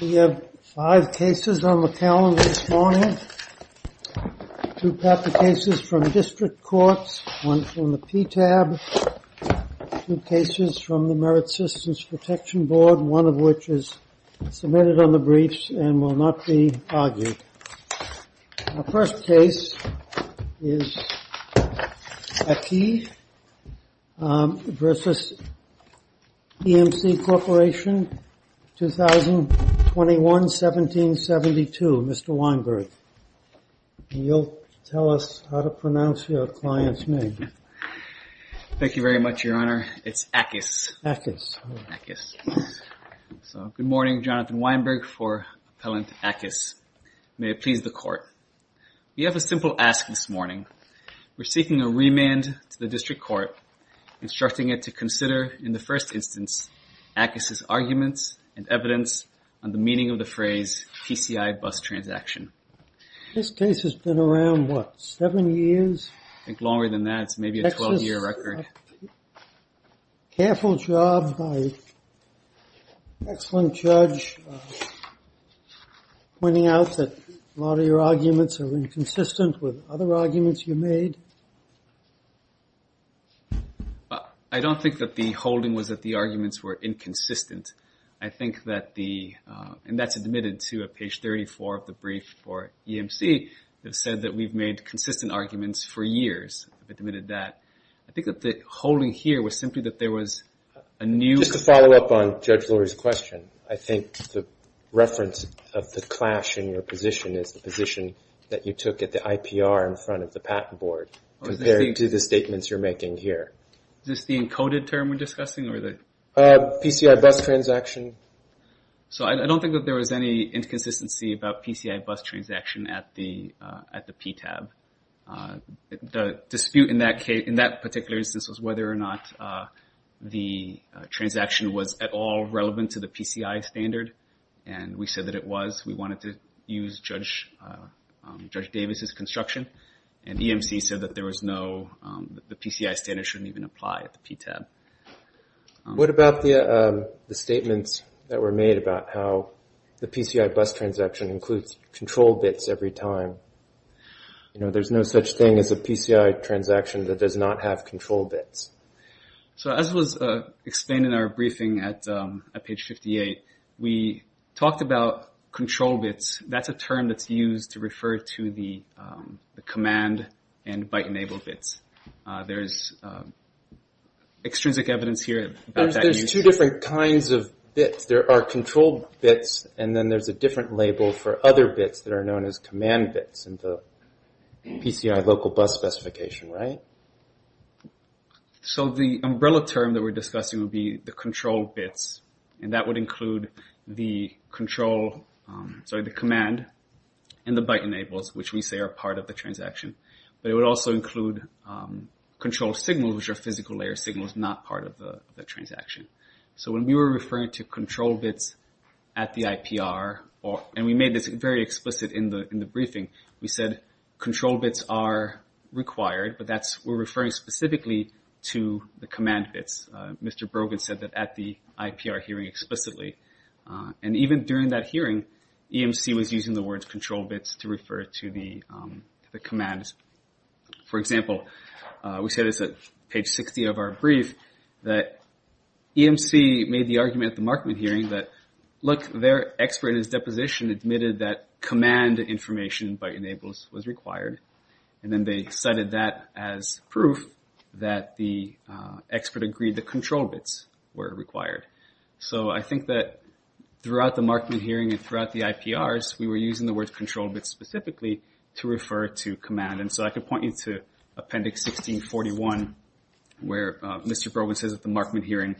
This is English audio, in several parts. We have five cases on the calendar this morning. Two cases from district courts, one from the PTAB, two cases from the Merit Systems Protection Board, one of which is submitted on the briefs and will not be argued. Our first case is Equis v. EMC Corporation, 2021-1772. Mr. Weinberg, you'll tell us how to pronounce your client's name. Thank you very much, Your Honor. It's Aqqis. Aqqis. Good morning. Jonathan Weinberg for Appellant Aqqis. May it please the Court. We have a simple ask this morning. We're seeking a remand to the district court, instructing it to consider, in the first instance, Aqqis' arguments and evidence on the meaning of the phrase TCI bus transaction. This case has been around, what, seven years? I think longer than that. It's maybe a 12-year record. Careful job by an excellent judge, pointing out that a lot of your arguments are inconsistent with other arguments you made. I don't think that the holding was that the arguments were inconsistent. I think that the, and that's admitted, too, at page 34 of the brief for EMC, it said that we've made consistent arguments for years. I think that the holding here was simply that there was a new... Just to follow up on Judge Lurie's question, I think the reference of the clash in your position is the position that you took at the IPR in front of the patent board, compared to the statements you're making here. Is this the encoded term we're discussing? TCI bus transaction. So I don't think that there was any inconsistency about TCI bus transaction at the PTAB. The dispute in that particular instance was whether or not the transaction was at all relevant to the PCI standard, and we said that it was. We wanted to use Judge Davis's construction, and EMC said that the PCI standard shouldn't even apply at the PTAB. What about the statements that were made about how the PCI bus transaction includes control bits every time? There's no such thing as a PCI transaction that does not have control bits. As was explained in our briefing at page 58, we talked about control bits. That's a term that's used to refer to the command and byte-enabled bits. There's extrinsic evidence here about that use. There's two different kinds of bits. There are control bits, and then there's a different label for other bits that are known as command bits in the PCI local bus specification. The umbrella term that we're discussing would be the control bits. That would include the command and the byte-enabled, which we say are part of the transaction. It would also include control signals, which are physical layer signals not part of the transaction. When we were referring to control bits at the IPR, and we made this very explicit in the briefing, we said control bits are required, but we're referring specifically to the command bits. Mr. Brogan said that at the IPR hearing explicitly. Even during that hearing, EMC was using the words control bits to refer to the commands. For example, we said at page 60 of our brief that EMC made the argument at the Markman hearing that their expert in his deposition admitted that command information by enables was required, and then they cited that as proof that the expert agreed that control bits were required. I think that throughout the Markman hearing and throughout the IPRs, we were using the words control bits specifically to refer to command. I could point you to appendix 1641, where Mr. Brogan says at the Markman hearing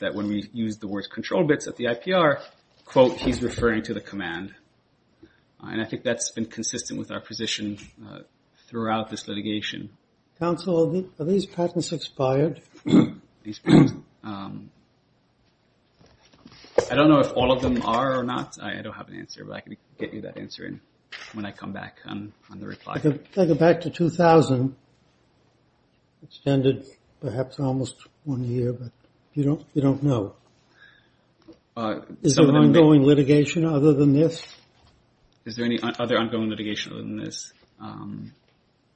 that when we used the words control bits at the IPR, quote, he's referring to the command. I think that's been consistent with our position throughout this litigation. Counsel, are these patents expired? These patents? I don't know if all of them are or not. I don't have an answer, but I can get you that answer when I come back on the reply. Take it back to 2000. Extended perhaps almost one year, but you don't know. Is there ongoing litigation other than this? Is there any other ongoing litigation other than this?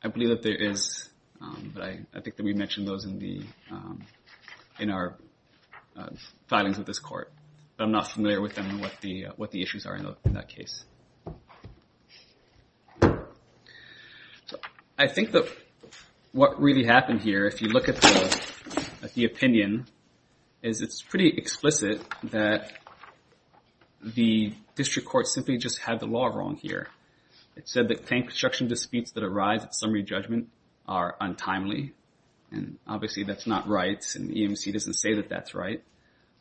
I believe that there is, but I think that we mentioned those in our filings with this court. I'm not familiar with them and what the issues are in that case. I think that what really happened here, if you look at the opinion, is it's pretty explicit that the district court simply just had the law wrong here. It said that construction disputes that arise at summary judgment are untimely, and obviously that's not right, and EMC doesn't say that that's right.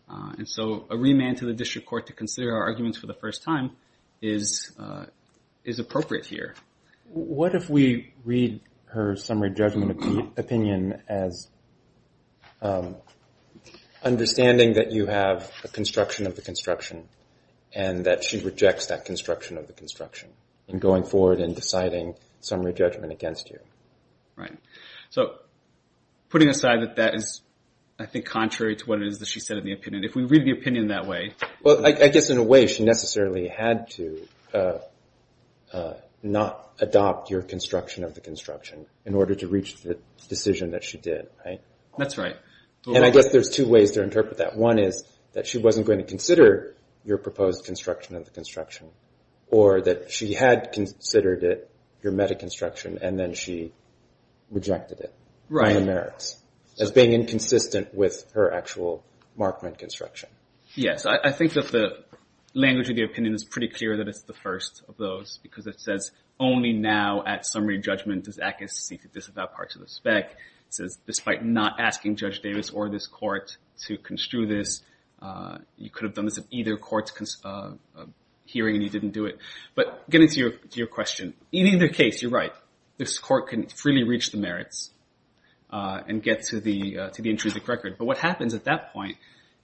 And so a remand to the district court to consider our arguments for the first time is appropriate here. What if we read her summary judgment opinion as understanding that you have a construction of the construction and that she rejects that construction of the construction in going forward and deciding summary judgment against you? Right. So putting aside that that is, I think, contrary to what it is that she said in the opinion, if we read the opinion that way... Well, I guess in a way she necessarily had to not adopt your construction of the construction in order to reach the decision that she did, right? That's right. And I guess there's two ways to interpret that. One is that she wasn't going to consider your proposed construction of the construction, or that she had considered it your metaconstruction and then she rejected it by the merits as being inconsistent with her actual Markman construction. Yes. I think that the language of the opinion is pretty clear that it's the first of those because it says only now at summary judgment does ACAS seek to disavow parts of the spec. It says despite not asking Judge Davis or this court to construe this, you could have done this at either court's hearing and you didn't do it. But getting to your question, in either case, you're right. This court can freely reach the merits and get to the intrusive record. But what happens at that point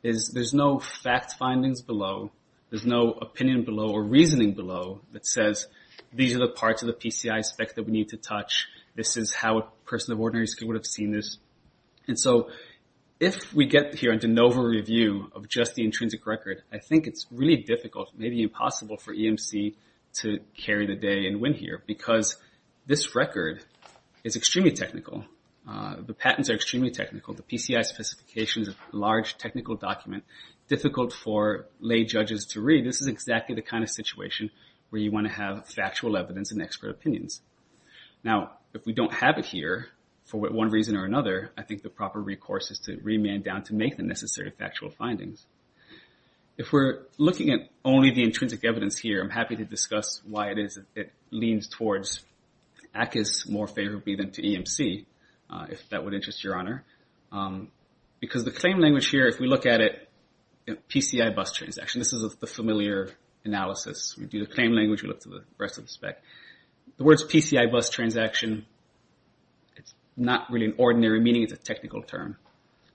is there's no fact findings below, there's no opinion below or reasoning below that says these are the parts of the PCI spec that we need to touch, this is how a person of ordinary skill would have seen this. And so if we get here a de novo review of just the intrinsic record, I think it's really difficult, maybe impossible, for EMC to carry the day and win here because this record is extremely technical. The patents are extremely technical. The PCI specification is a large technical document, difficult for lay judges to read. This is exactly the kind of situation where you want to have factual evidence and expert opinions. Now, if we don't have it here, for one reason or another, I think the proper recourse is to remand down to make the necessary factual findings. If we're looking at only the intrinsic evidence here, I'm happy to discuss why it leans towards ACAS more favorably than to EMC, if that would interest your honor. Because the claim language here, if we look at it, PCI bus transaction, this is the familiar analysis. We do the claim language, we look to the rest of the spec. The words PCI bus transaction, it's not really an ordinary meaning, it's a technical term.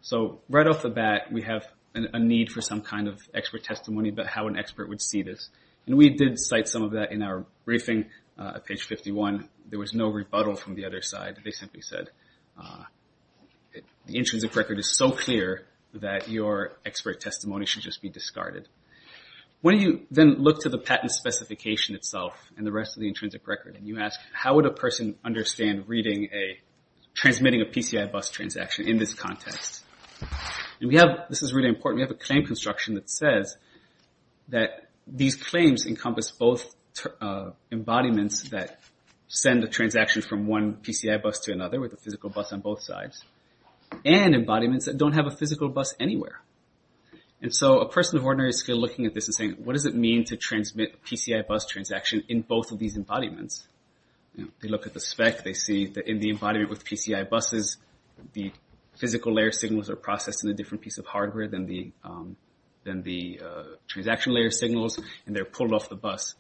So right off the bat, we have a need for some kind of expert testimony about how an expert would see this. And we did cite some of that in our briefing at page 51. There was no rebuttal from the other side. They simply said, the intrinsic record is so clear that your expert testimony should just be discarded. When you then look to the patent specification itself and the rest of the intrinsic record, and you ask, how would a person understand reading a, transmitting a PCI bus transaction in this context? And we have, this is really important, we have a claim construction that says that these claims encompass both embodiments that send a transaction from one PCI bus to another, with a physical bus on both sides, and embodiments that don't have a physical bus anywhere. And so a person of ordinary skill looking at this and saying, what does it mean to transmit a PCI bus transaction in both of these embodiments? They look at the spec, they see that in the embodiment with PCI buses, the physical layer signals are processed in a different piece of hardware than the transaction layer signals, and they're pulled off the bus.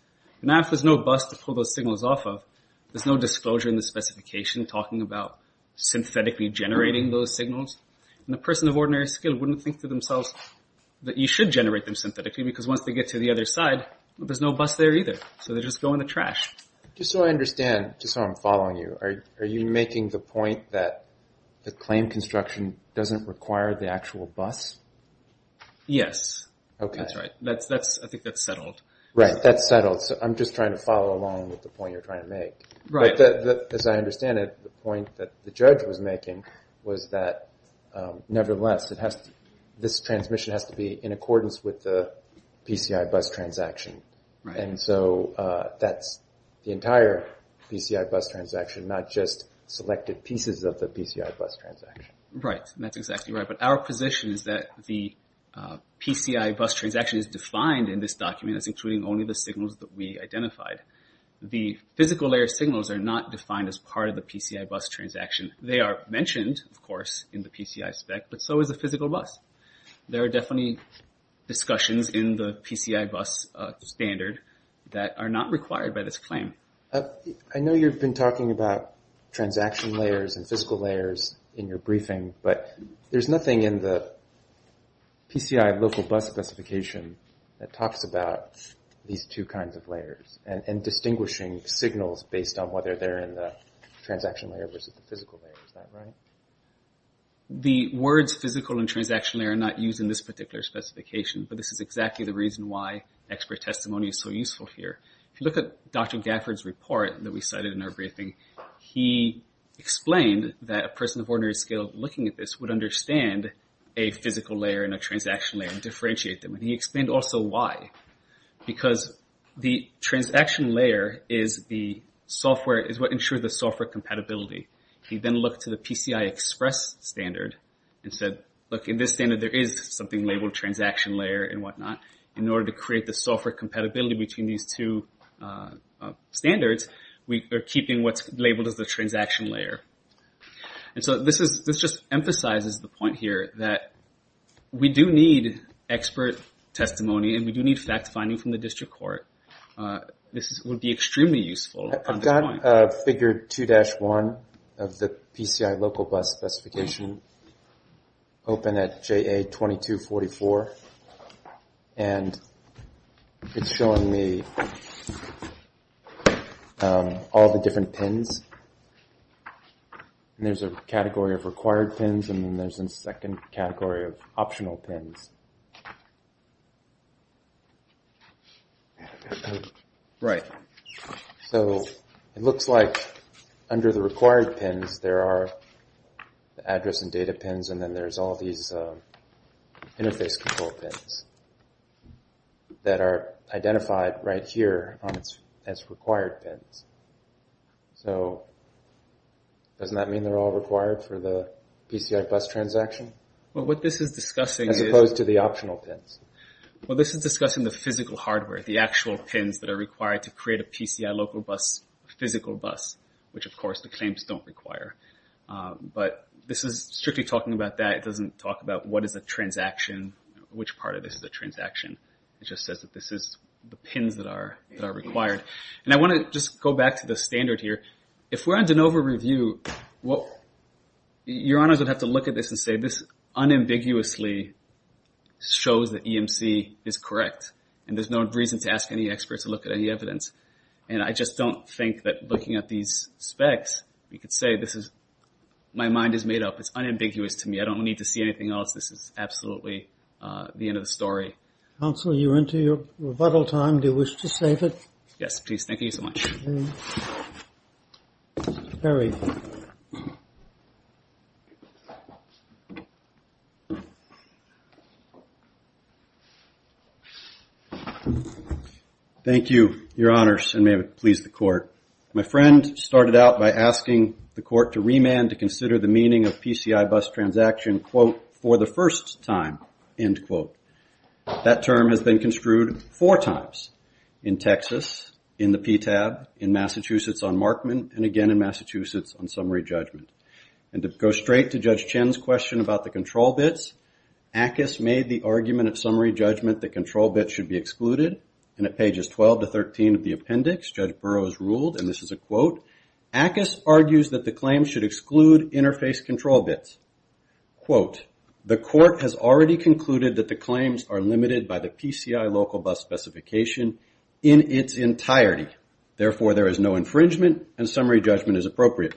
Now if there's no bus to pull those signals off of, there's no disclosure in the specification talking about synthetically generating those signals, and the person of ordinary skill wouldn't think to themselves that you should generate them synthetically, because once they get to the other side, there's no bus there either. So they just go in the trash. Just so I understand, just so I'm following you, are you making the point that the claim construction doesn't require the actual bus? Yes. Okay. That's right. I think that's settled. Right, that's settled. So I'm just trying to follow along with the point you're trying to make. Right. But as I understand it, the point that the judge was making was that nevertheless, this transmission has to be in accordance with the PCI bus transaction. And so that's the entire PCI bus transaction, not just selected pieces of the PCI bus transaction. Right, that's exactly right. But our position is that the PCI bus transaction is defined in this document as including only the signals that we identified. The physical layer signals are not defined as part of the PCI bus transaction. They are mentioned, of course, in the PCI spec, but so is the physical bus. There are definitely discussions in the PCI bus standard that are not required by this claim. I know you've been talking about transaction layers and physical layers in your briefing, but there's nothing in the PCI local bus specification that talks about these two kinds of layers and distinguishing signals based on whether they're in the transaction layer versus the physical layer. Is that right? The words physical and transaction layer are not used in this particular specification, but this is exactly the reason why expert testimony is so useful here. If you look at Dr. Gafford's report that we cited in our briefing, he explained that a person of ordinary skill looking at this would understand a physical layer and a transaction layer and differentiate them. He explained also why. Because the transaction layer is the software, is what ensures the software compatibility. He then looked to the PCI Express standard and said, look, in this standard, there is something labeled transaction layer and whatnot. In order to create the software compatibility between these two standards, we are keeping what's labeled as the transaction layer. And so this just emphasizes the point here that we do need expert testimony and we do need facts finding from the district court. This would be extremely useful. I've got a figure 2-1 of the PCI local bus specification open at JA 2244. And it's showing me all the different pins. And there's a category of required pins and there's a second category of optional pins. Right. So it looks like under the required pins, there are the address and data pins and then there's all these interface control pins that are identified right here as required pins. So doesn't that mean they're all required for the PCI bus transaction? Well, what this is discussing is... As opposed to the optional pins. Well, this is discussing the physical hardware, the actual pins that are required to create a PCI local bus physical bus, which of course the claims don't require. But this is strictly talking about that. It doesn't talk about what is a transaction, which part of this is a transaction. It just says that this is the pins that are required. And I want to just go back to the standard here. If we're on de novo review, your honors would have to look at this and say this unambiguously shows that EMC is correct. And there's no reason to ask any experts to look at any evidence. And I just don't think that looking at these specs, we could say this is... My mind is made up. It's unambiguous to me. I don't need to see anything else. This is absolutely the end of the story. Counselor, you're into your rebuttal time. Do you wish to save it? Yes, please. Thank you so much. Harry. Thank you, your honors, and may it please the court. My friend started out by asking the court to remand to consider the meaning of PCI bus transaction, quote, for the first time, end quote. That term has been construed four times. In Texas, in the PTAB, in Massachusetts on Markman, and again in Massachusetts on summary judgment. And to go straight to Judge Chen's question about the control bits, Ackes made the argument at summary judgment that control bits should be excluded. And at pages 12 to 13 of the appendix, Judge Burroughs ruled, and this is a quote, Ackes argues that the claims should exclude interface control bits. Quote, the court has already concluded that the claims are limited by the PCI local bus specification in its entirety. Therefore, there is no infringement and summary judgment is appropriate.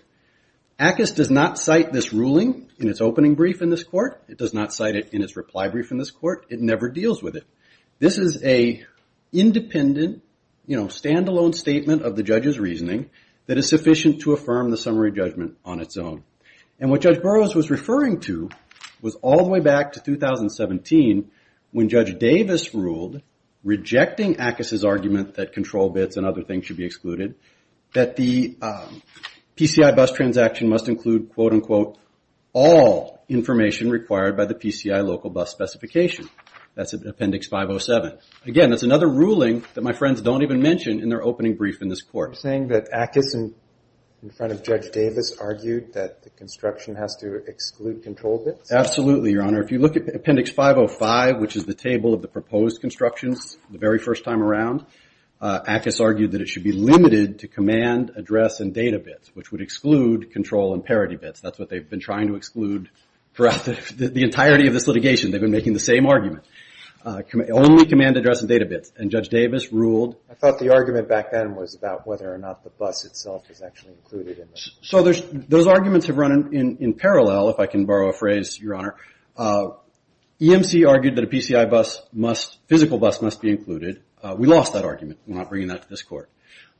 Ackes does not cite this ruling in its opening brief in this court. It does not cite it in its reply brief in this court. It never deals with it. This is a independent, you know, standalone statement of the judge's reasoning that is sufficient to affirm the summary judgment on its own. And what Judge Burroughs was referring to was all the way back to 2017, when Judge Davis ruled, rejecting Ackes' argument that control bits and other things should be excluded, that the PCI bus transaction must include, quote, unquote, all information required by the PCI local bus specification. That's in appendix 507. Again, that's another ruling that my friends don't even mention in their opening brief in this court. You're saying that Ackes, in front of Judge Davis, argued that the construction has to exclude control bits? Absolutely, Your Honor. If you look at appendix 505, which is the table of the proposed constructions the very first time around, Ackes argued that it should be limited to command, address, and data bits, which would exclude control and parity bits. That's what they've been trying to exclude throughout the entirety of this litigation. They've been making the same argument. Only command, address, and data bits. And Judge Davis ruled... I thought the argument back then was about whether or not the bus itself is actually included. Those arguments have run in parallel, if I can borrow a phrase, Your Honor. EMC argued that a PCI physical bus must be included. We lost that argument. We're not bringing that to this court.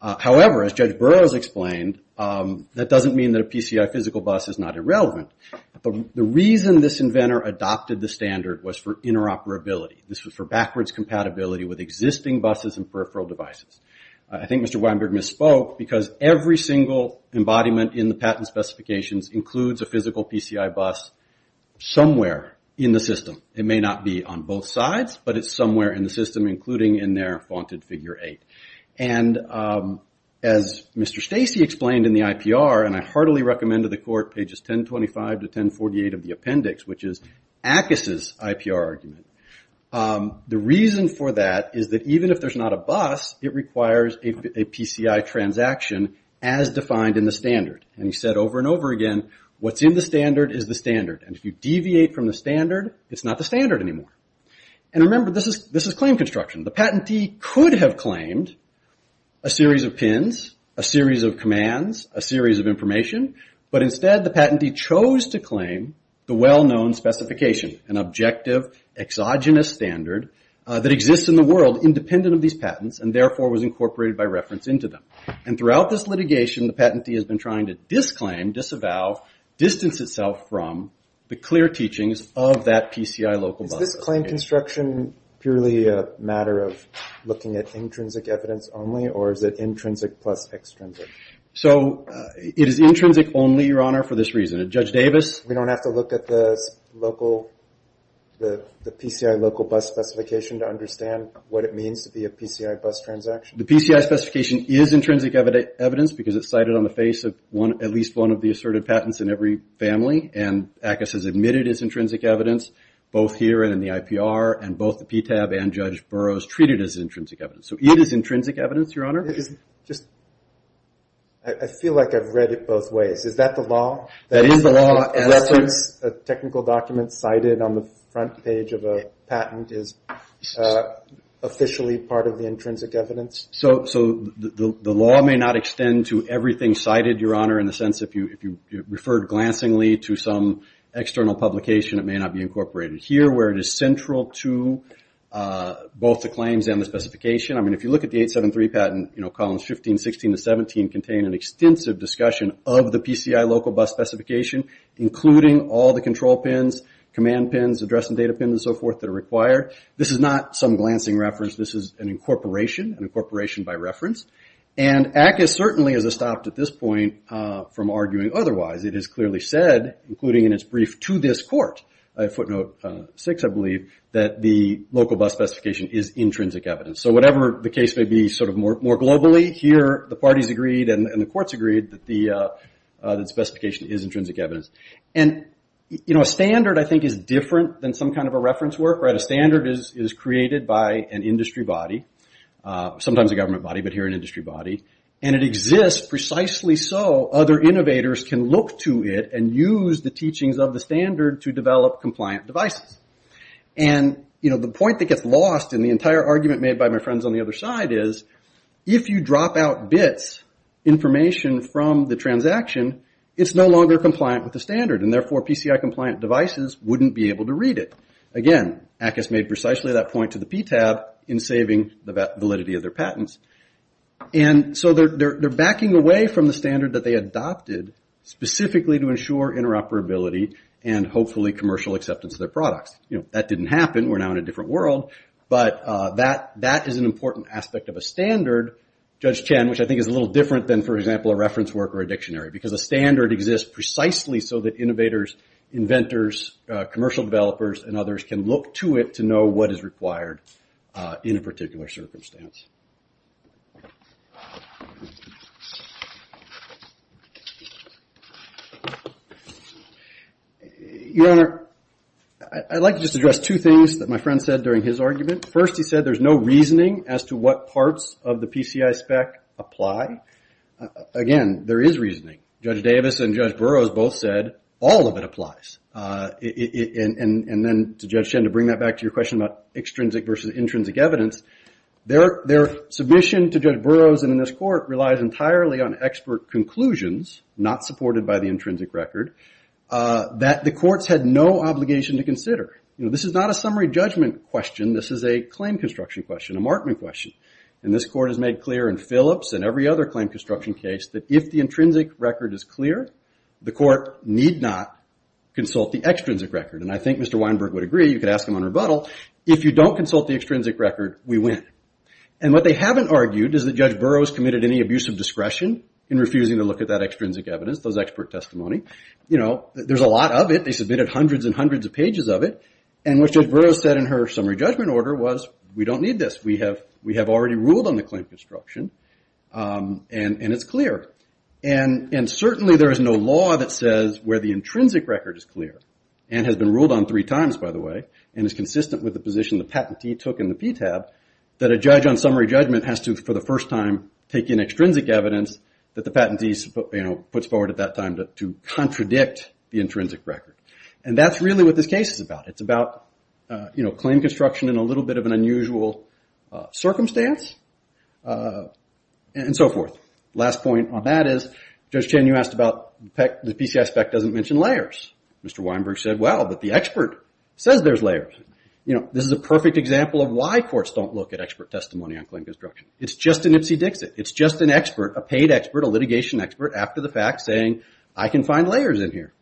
However, as Judge Burroughs explained, that doesn't mean that a PCI physical bus is not irrelevant. The reason this inventor adopted the standard was for interoperability. This was for backwards compatibility with existing buses and peripheral devices. I think Mr. Weinberg misspoke, because every single embodiment in the patent specifications includes a physical PCI bus somewhere in the system. It may not be on both sides, but it's somewhere in the system, including in their faunted figure eight. And as Mr. Stacey explained in the IPR, and I heartily recommend to the court pages 1025 to 1048 of the appendix, which is Ackes' IPR argument, the reason for that is that even if there's not a bus, it requires a PCI transaction as defined in the standard. And he said over and over again, what's in the standard is the standard, and if you deviate from the standard, it's not the standard anymore. And remember, this is claim construction. The patentee could have claimed a series of pins, a series of commands, a series of information, but instead the patentee chose to claim the well-known specification, an objective, exogenous standard that exists in the world independent of these patents, and therefore was incorporated by reference into them. And throughout this litigation, the patentee has been trying to disclaim, disavow, distance itself from the clear teachings of that PCI local bus. Is this claim construction purely a matter of looking at intrinsic evidence only, or is it intrinsic plus extrinsic? So it is intrinsic only, Your Honor, for this reason. Judge Davis? We don't have to look at the PCI local bus specification to understand what it means to be a PCI bus transaction. The PCI specification is intrinsic evidence because it's cited on the face of at least one of the asserted patents in every family, and ACUS has admitted it's intrinsic evidence, both here and in the IPR, and both the PTAB and Judge Burroughs treat it as intrinsic evidence. So it is intrinsic evidence, Your Honor. I feel like I've read it both ways. That is the law. A technical document cited on the front page of a patent is officially part of the intrinsic evidence. So the law may not extend to everything cited, Your Honor, in the sense if you referred glancingly to some external publication, it may not be incorporated here, where it is central to both the claims and the specification. I mean, if you look at the 873 patent, columns 15, 16, and 17 contain an extensive discussion of the PCI local bus specification, including all the control PINs, command PINs, address and data PINs, and so forth that are required. This is not some glancing reference. This is an incorporation, an incorporation by reference. And ACUS certainly has stopped at this point from arguing otherwise. It has clearly said, including in its brief to this court, footnote six, I believe, that the local bus specification is intrinsic evidence. So whatever the case may be, sort of more globally, here the parties agreed and the courts agreed that the specification is intrinsic evidence. And, you know, a standard, I think, is different than some kind of a reference work. A standard is created by an industry body, sometimes a government body, but here an industry body, and it exists precisely so other innovators can look to it and use the teachings of the standard to develop compliant devices. And, you know, the point that gets lost in the entire argument made by my friends on the other side is if you drop out bits, information from the transaction, it's no longer compliant with the standard, and therefore PCI compliant devices wouldn't be able to read it. Again, ACUS made precisely that point to the PTAB in saving the validity of their patents. And so they're backing away from the standard that they adopted specifically to ensure interoperability and hopefully commercial acceptance of their products. You know, that didn't happen. We're now in a different world. But that is an important aspect of a standard, Judge Chen, which I think is a little different than, for example, a reference work or a dictionary, because a standard exists precisely so that innovators, inventors, commercial developers, and others can look to it to know what is required in a particular circumstance. Your Honor, I'd like to just address two things that my friend said during his argument. First, he said there's no reasoning as to what parts of the PCI spec apply. Again, there is reasoning. Judge Davis and Judge Burroughs both said all of it applies. And then, to Judge Chen, to bring that back to your question about extrinsic versus intrinsic evidence, their submission to Judge Burroughs and in this court relies entirely on expert conclusions, not supported by the intrinsic record, that the courts had no obligation to consider. You know, this is not a summary judgment question. This is a claim construction question, a markman question. And this court has made clear in Phillips and every other claim construction case that if the intrinsic record is clear, the court need not consult the extrinsic record. And I think Mr. Weinberg would agree, you could ask him on rebuttal, if you don't consult the extrinsic record, we win. And what they haven't argued is that Judge Burroughs committed any abuse of discretion in refusing to look at that extrinsic evidence, those expert testimony. You know, there's a lot of it. They submitted hundreds and hundreds of pages of it. And what Judge Burroughs said in her summary judgment order was, we don't need this. We have already ruled on the claim construction. And it's clear. And certainly there is no law that says where the intrinsic record is clear, and has been ruled on three times, by the way, and is consistent with the position the patentee took in the PTAB, that a judge on summary judgment has to, for the first time, take in extrinsic evidence that the patentee puts forward at that time to contradict the intrinsic record. And that's really what this case is about. It's about claim construction in a little bit of an unusual circumstance, and so forth. Last point on that is, Judge Chen, you asked about the PCI spec doesn't mention layers. Mr. Weinberg said, well, but the expert says there's layers. You know, this is a perfect example of why courts don't look at expert testimony on claim construction. It's just an ipsy-dixit. It's just an expert, a paid expert, a litigation expert, after the fact, saying, I can find layers in here.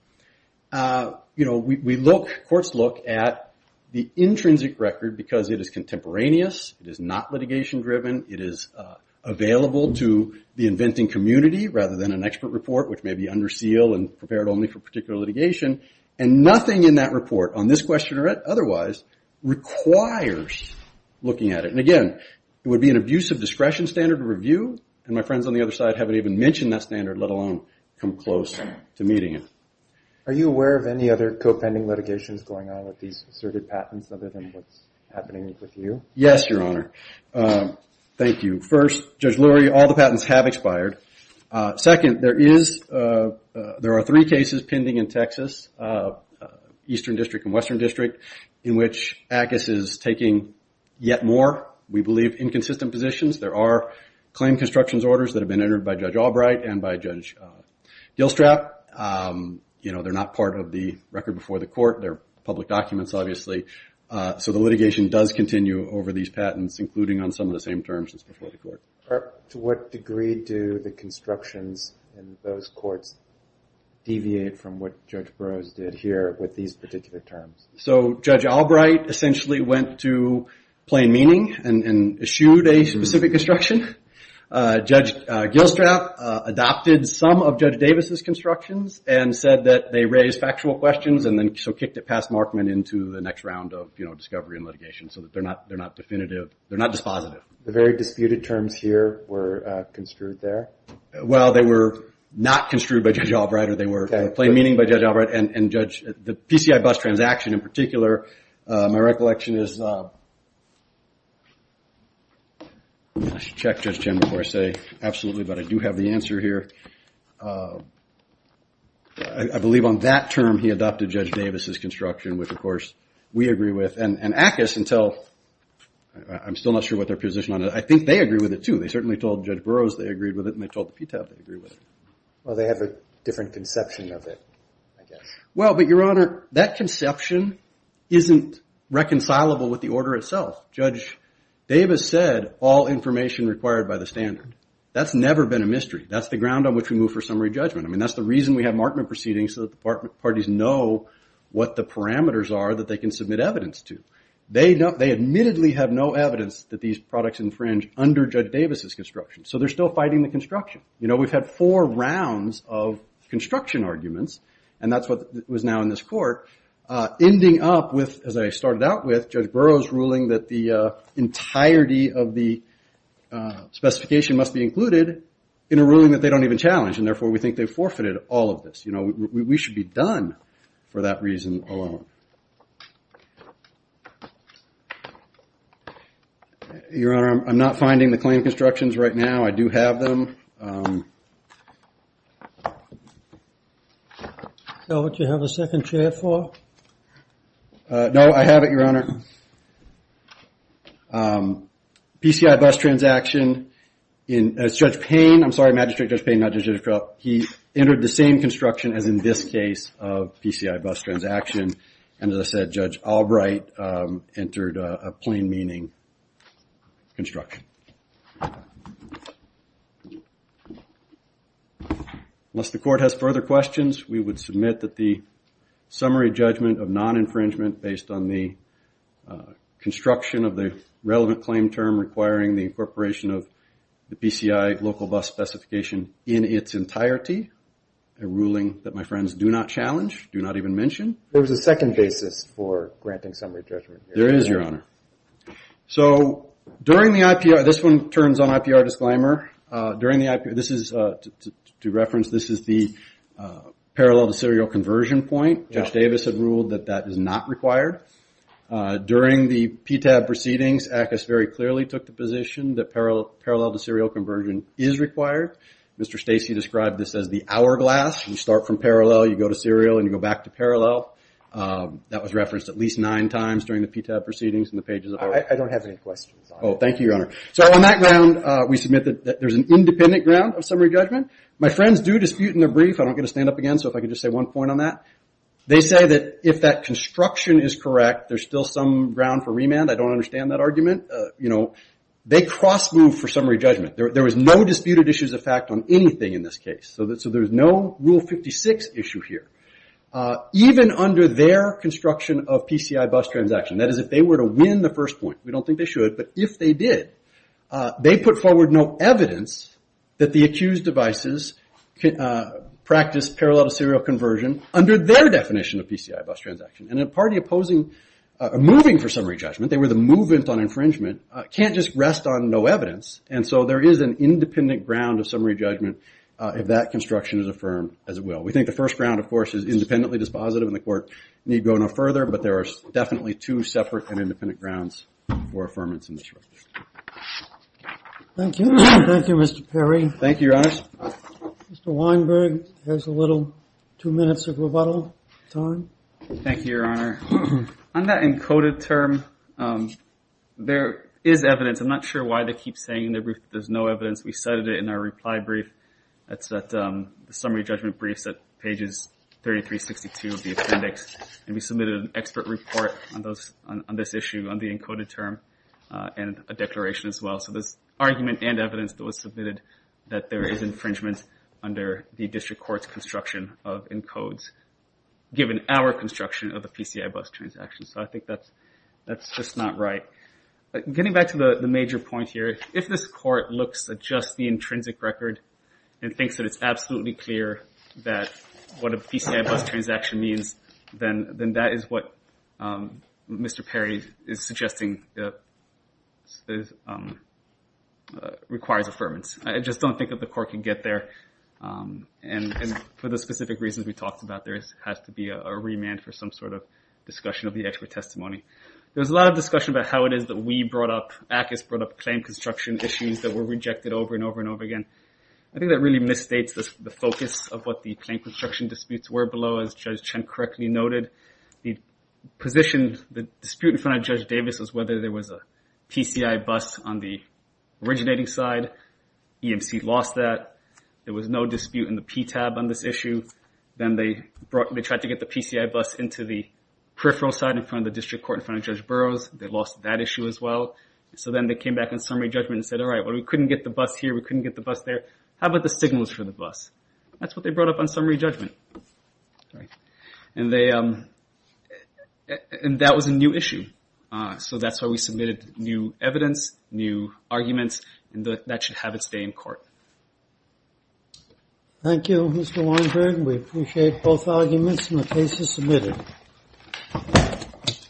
You know, we look, courts look at the intrinsic record because it is contemporaneous, it is not litigation-driven, it is available to the inventing community, rather than an expert report, which may be under seal and prepared only for particular litigation. And nothing in that report, on this question or otherwise, requires looking at it. And again, it would be an abusive discretion standard to review, and my friends on the other side haven't even mentioned that standard, let alone come close to meeting it. Are you aware of any other co-pending litigations going on with these asserted patents other than what's happening with you? Yes, Your Honor. Thank you. First, Judge Lurie, all the patents have expired. Second, there is, there are three cases pending in Texas, Eastern District and Western District, in which ACUS is taking yet more, we believe, inconsistent positions. There are claim constructions orders that have been entered by Judge Albright and by Judge Dilstrap. You know, they're not part of the record before the court, they're public documents, obviously. So the litigation does continue over these patents, including on some of the same terms as before the court. To what degree do the constructions in those courts deviate from what Judge Burroughs did here with these particular terms? So Judge Albright essentially went to plain meaning and eschewed a specific construction. Judge Dilstrap adopted some of Judge Davis' constructions and said that they raised factual questions and then so kicked it past Markman into the next round of, you know, discovery and litigation so that they're not definitive, they're not dispositive. The very disputed terms here were construed there? Well, they were not construed by Judge Albright, or they were plain meaning by Judge Albright and the PCI bus transaction in particular, my recollection is, I should check Judge Chen before I say absolutely, but I do have the answer here. I believe on that term he adopted Judge Davis' construction, which of course we agree with, and ACUS until, I'm still not sure what their position on it, I think they agree with it too. They certainly told Judge Burroughs they agreed with it and they told the PTAB they agree with it. Well, they have a different conception of it, I guess. Well, but Your Honor, that conception isn't reconcilable with the order itself. Judge Davis said, all information required by the standard. That's never been a mystery. That's the ground on which we move for summary judgment. I mean, that's the reason we have Markman proceedings so that the parties know what the parameters are that they can submit evidence to. They admittedly have no evidence that these products infringe under Judge Davis' construction, so they're still fighting the construction. We've had four rounds of construction arguments, and that's what was now in this court, ending up with, as I started out with, Judge Burroughs' ruling that the entirety of the specification must be included in a ruling that they don't even challenge, and therefore we think they've forfeited all of this. You know, we should be done for that reason alone. Your Honor, I'm not finding the claim constructions right now. I do have them. So would you have a second chair for? No, I have it, Your Honor. PCI bus transaction in Judge Payne. I'm sorry, Magistrate Judge Payne, not Magistrate Judge Payne. He entered the same construction as in this case of PCI bus transaction, and as I said, Judge Albright entered a plain meaning construction. Unless the court has further questions, we would submit that the summary judgment of non-infringement based on the construction of the relevant claim term requiring the incorporation of the PCI local bus specification in its entirety, a ruling that my friends do not challenge, do not even mention. There's a second basis for granting summary judgment. There is, Your Honor. So during the IPR, this one turns on IPR disclaimer, during the IPR, this is, to reference, this is the parallel to serial conversion point. Judge Davis had ruled that that is not required. During the PTAB proceedings, ACUS very clearly took the position that parallel to serial conversion is required. Mr. Stacey described this as the hourglass. You start from parallel, you go to serial, and you go back to parallel. That was referenced at least nine times during the PTAB proceedings in the pages of our... I don't have any questions. Oh, thank you, Your Honor. So on that ground, we submit that there's an independent ground of summary judgment. My friends do dispute in their brief. I don't get to stand up again, so if I could just say one point on that. They say that if that construction is correct, there's still some ground for remand. I don't understand that argument. You know, they cross moved for summary judgment. There was no disputed issues of fact on anything in this case. So there's no Rule 56 issue here. Even under their construction of PCI bus transaction, that is, if they were to win the first point, we don't think they should, but if they did, they put forward no evidence that the accused devices practiced parallel to serial conversion under their definition of PCI bus transaction. And a party opposing... moving for summary judgment, they were the movement on infringement, can't just rest on no evidence, and so there is an independent ground of summary judgment if that construction is affirmed as it will. We think the first ground, of course, is independently dispositive and the court need go no further, but there are definitely two separate and independent grounds for affirmance in this case. Thank you. Thank you, Mr. Perry. Thank you, Your Honor. Mr. Weinberg two minutes of rebuttal time. Thank you, Your Honor. On that encoded term, there is evidence. I'm not sure why they keep saying that there's no evidence we cited it in our reply brief. That's that summary judgment brief set pages 3362 of the appendix. And we submitted an expert report on this issue on the encoded term and a declaration as well. So there's argument and evidence that was submitted that there is infringement under the district court's construction of encodes given our construction of a PCI bus transaction. So I think that's just not right. Getting back to the major point here, if this court looks at just the intrinsic record and thinks that it's absolutely clear that what a PCI bus transaction means then that is what Mr. Perry is suggesting requires affirmance. I just don't think that the court can get there. And for the specific reasons we talked about, there has to be a remand for some sort of discussion of the expert testimony. There's a lot of discussion about how it is that we brought up and how Mr. Ackes brought up claim construction issues that were rejected over and over and over again. I think that really misstates the focus of what the claim construction disputes were below as Judge Chen correctly noted. The position, the dispute in front of Judge Davis was whether there was a PCI bus on the originating side. EMC lost that. There was no dispute in the PTAB on this issue. Then they tried to get the PCI bus into the peripheral side in front of the district court in front of Judge Burroughs. They lost that issue as well. Then they came back on summary judgment and said, all right, we couldn't get the bus here. We couldn't get the bus there. How about the signals for the bus? That's what they brought up on summary judgment. That was a new issue. That's why we submitted new evidence, new arguments, and that should have its day in court. Thank you, Mr. Weinberg. We appreciate both arguments and the cases submitted.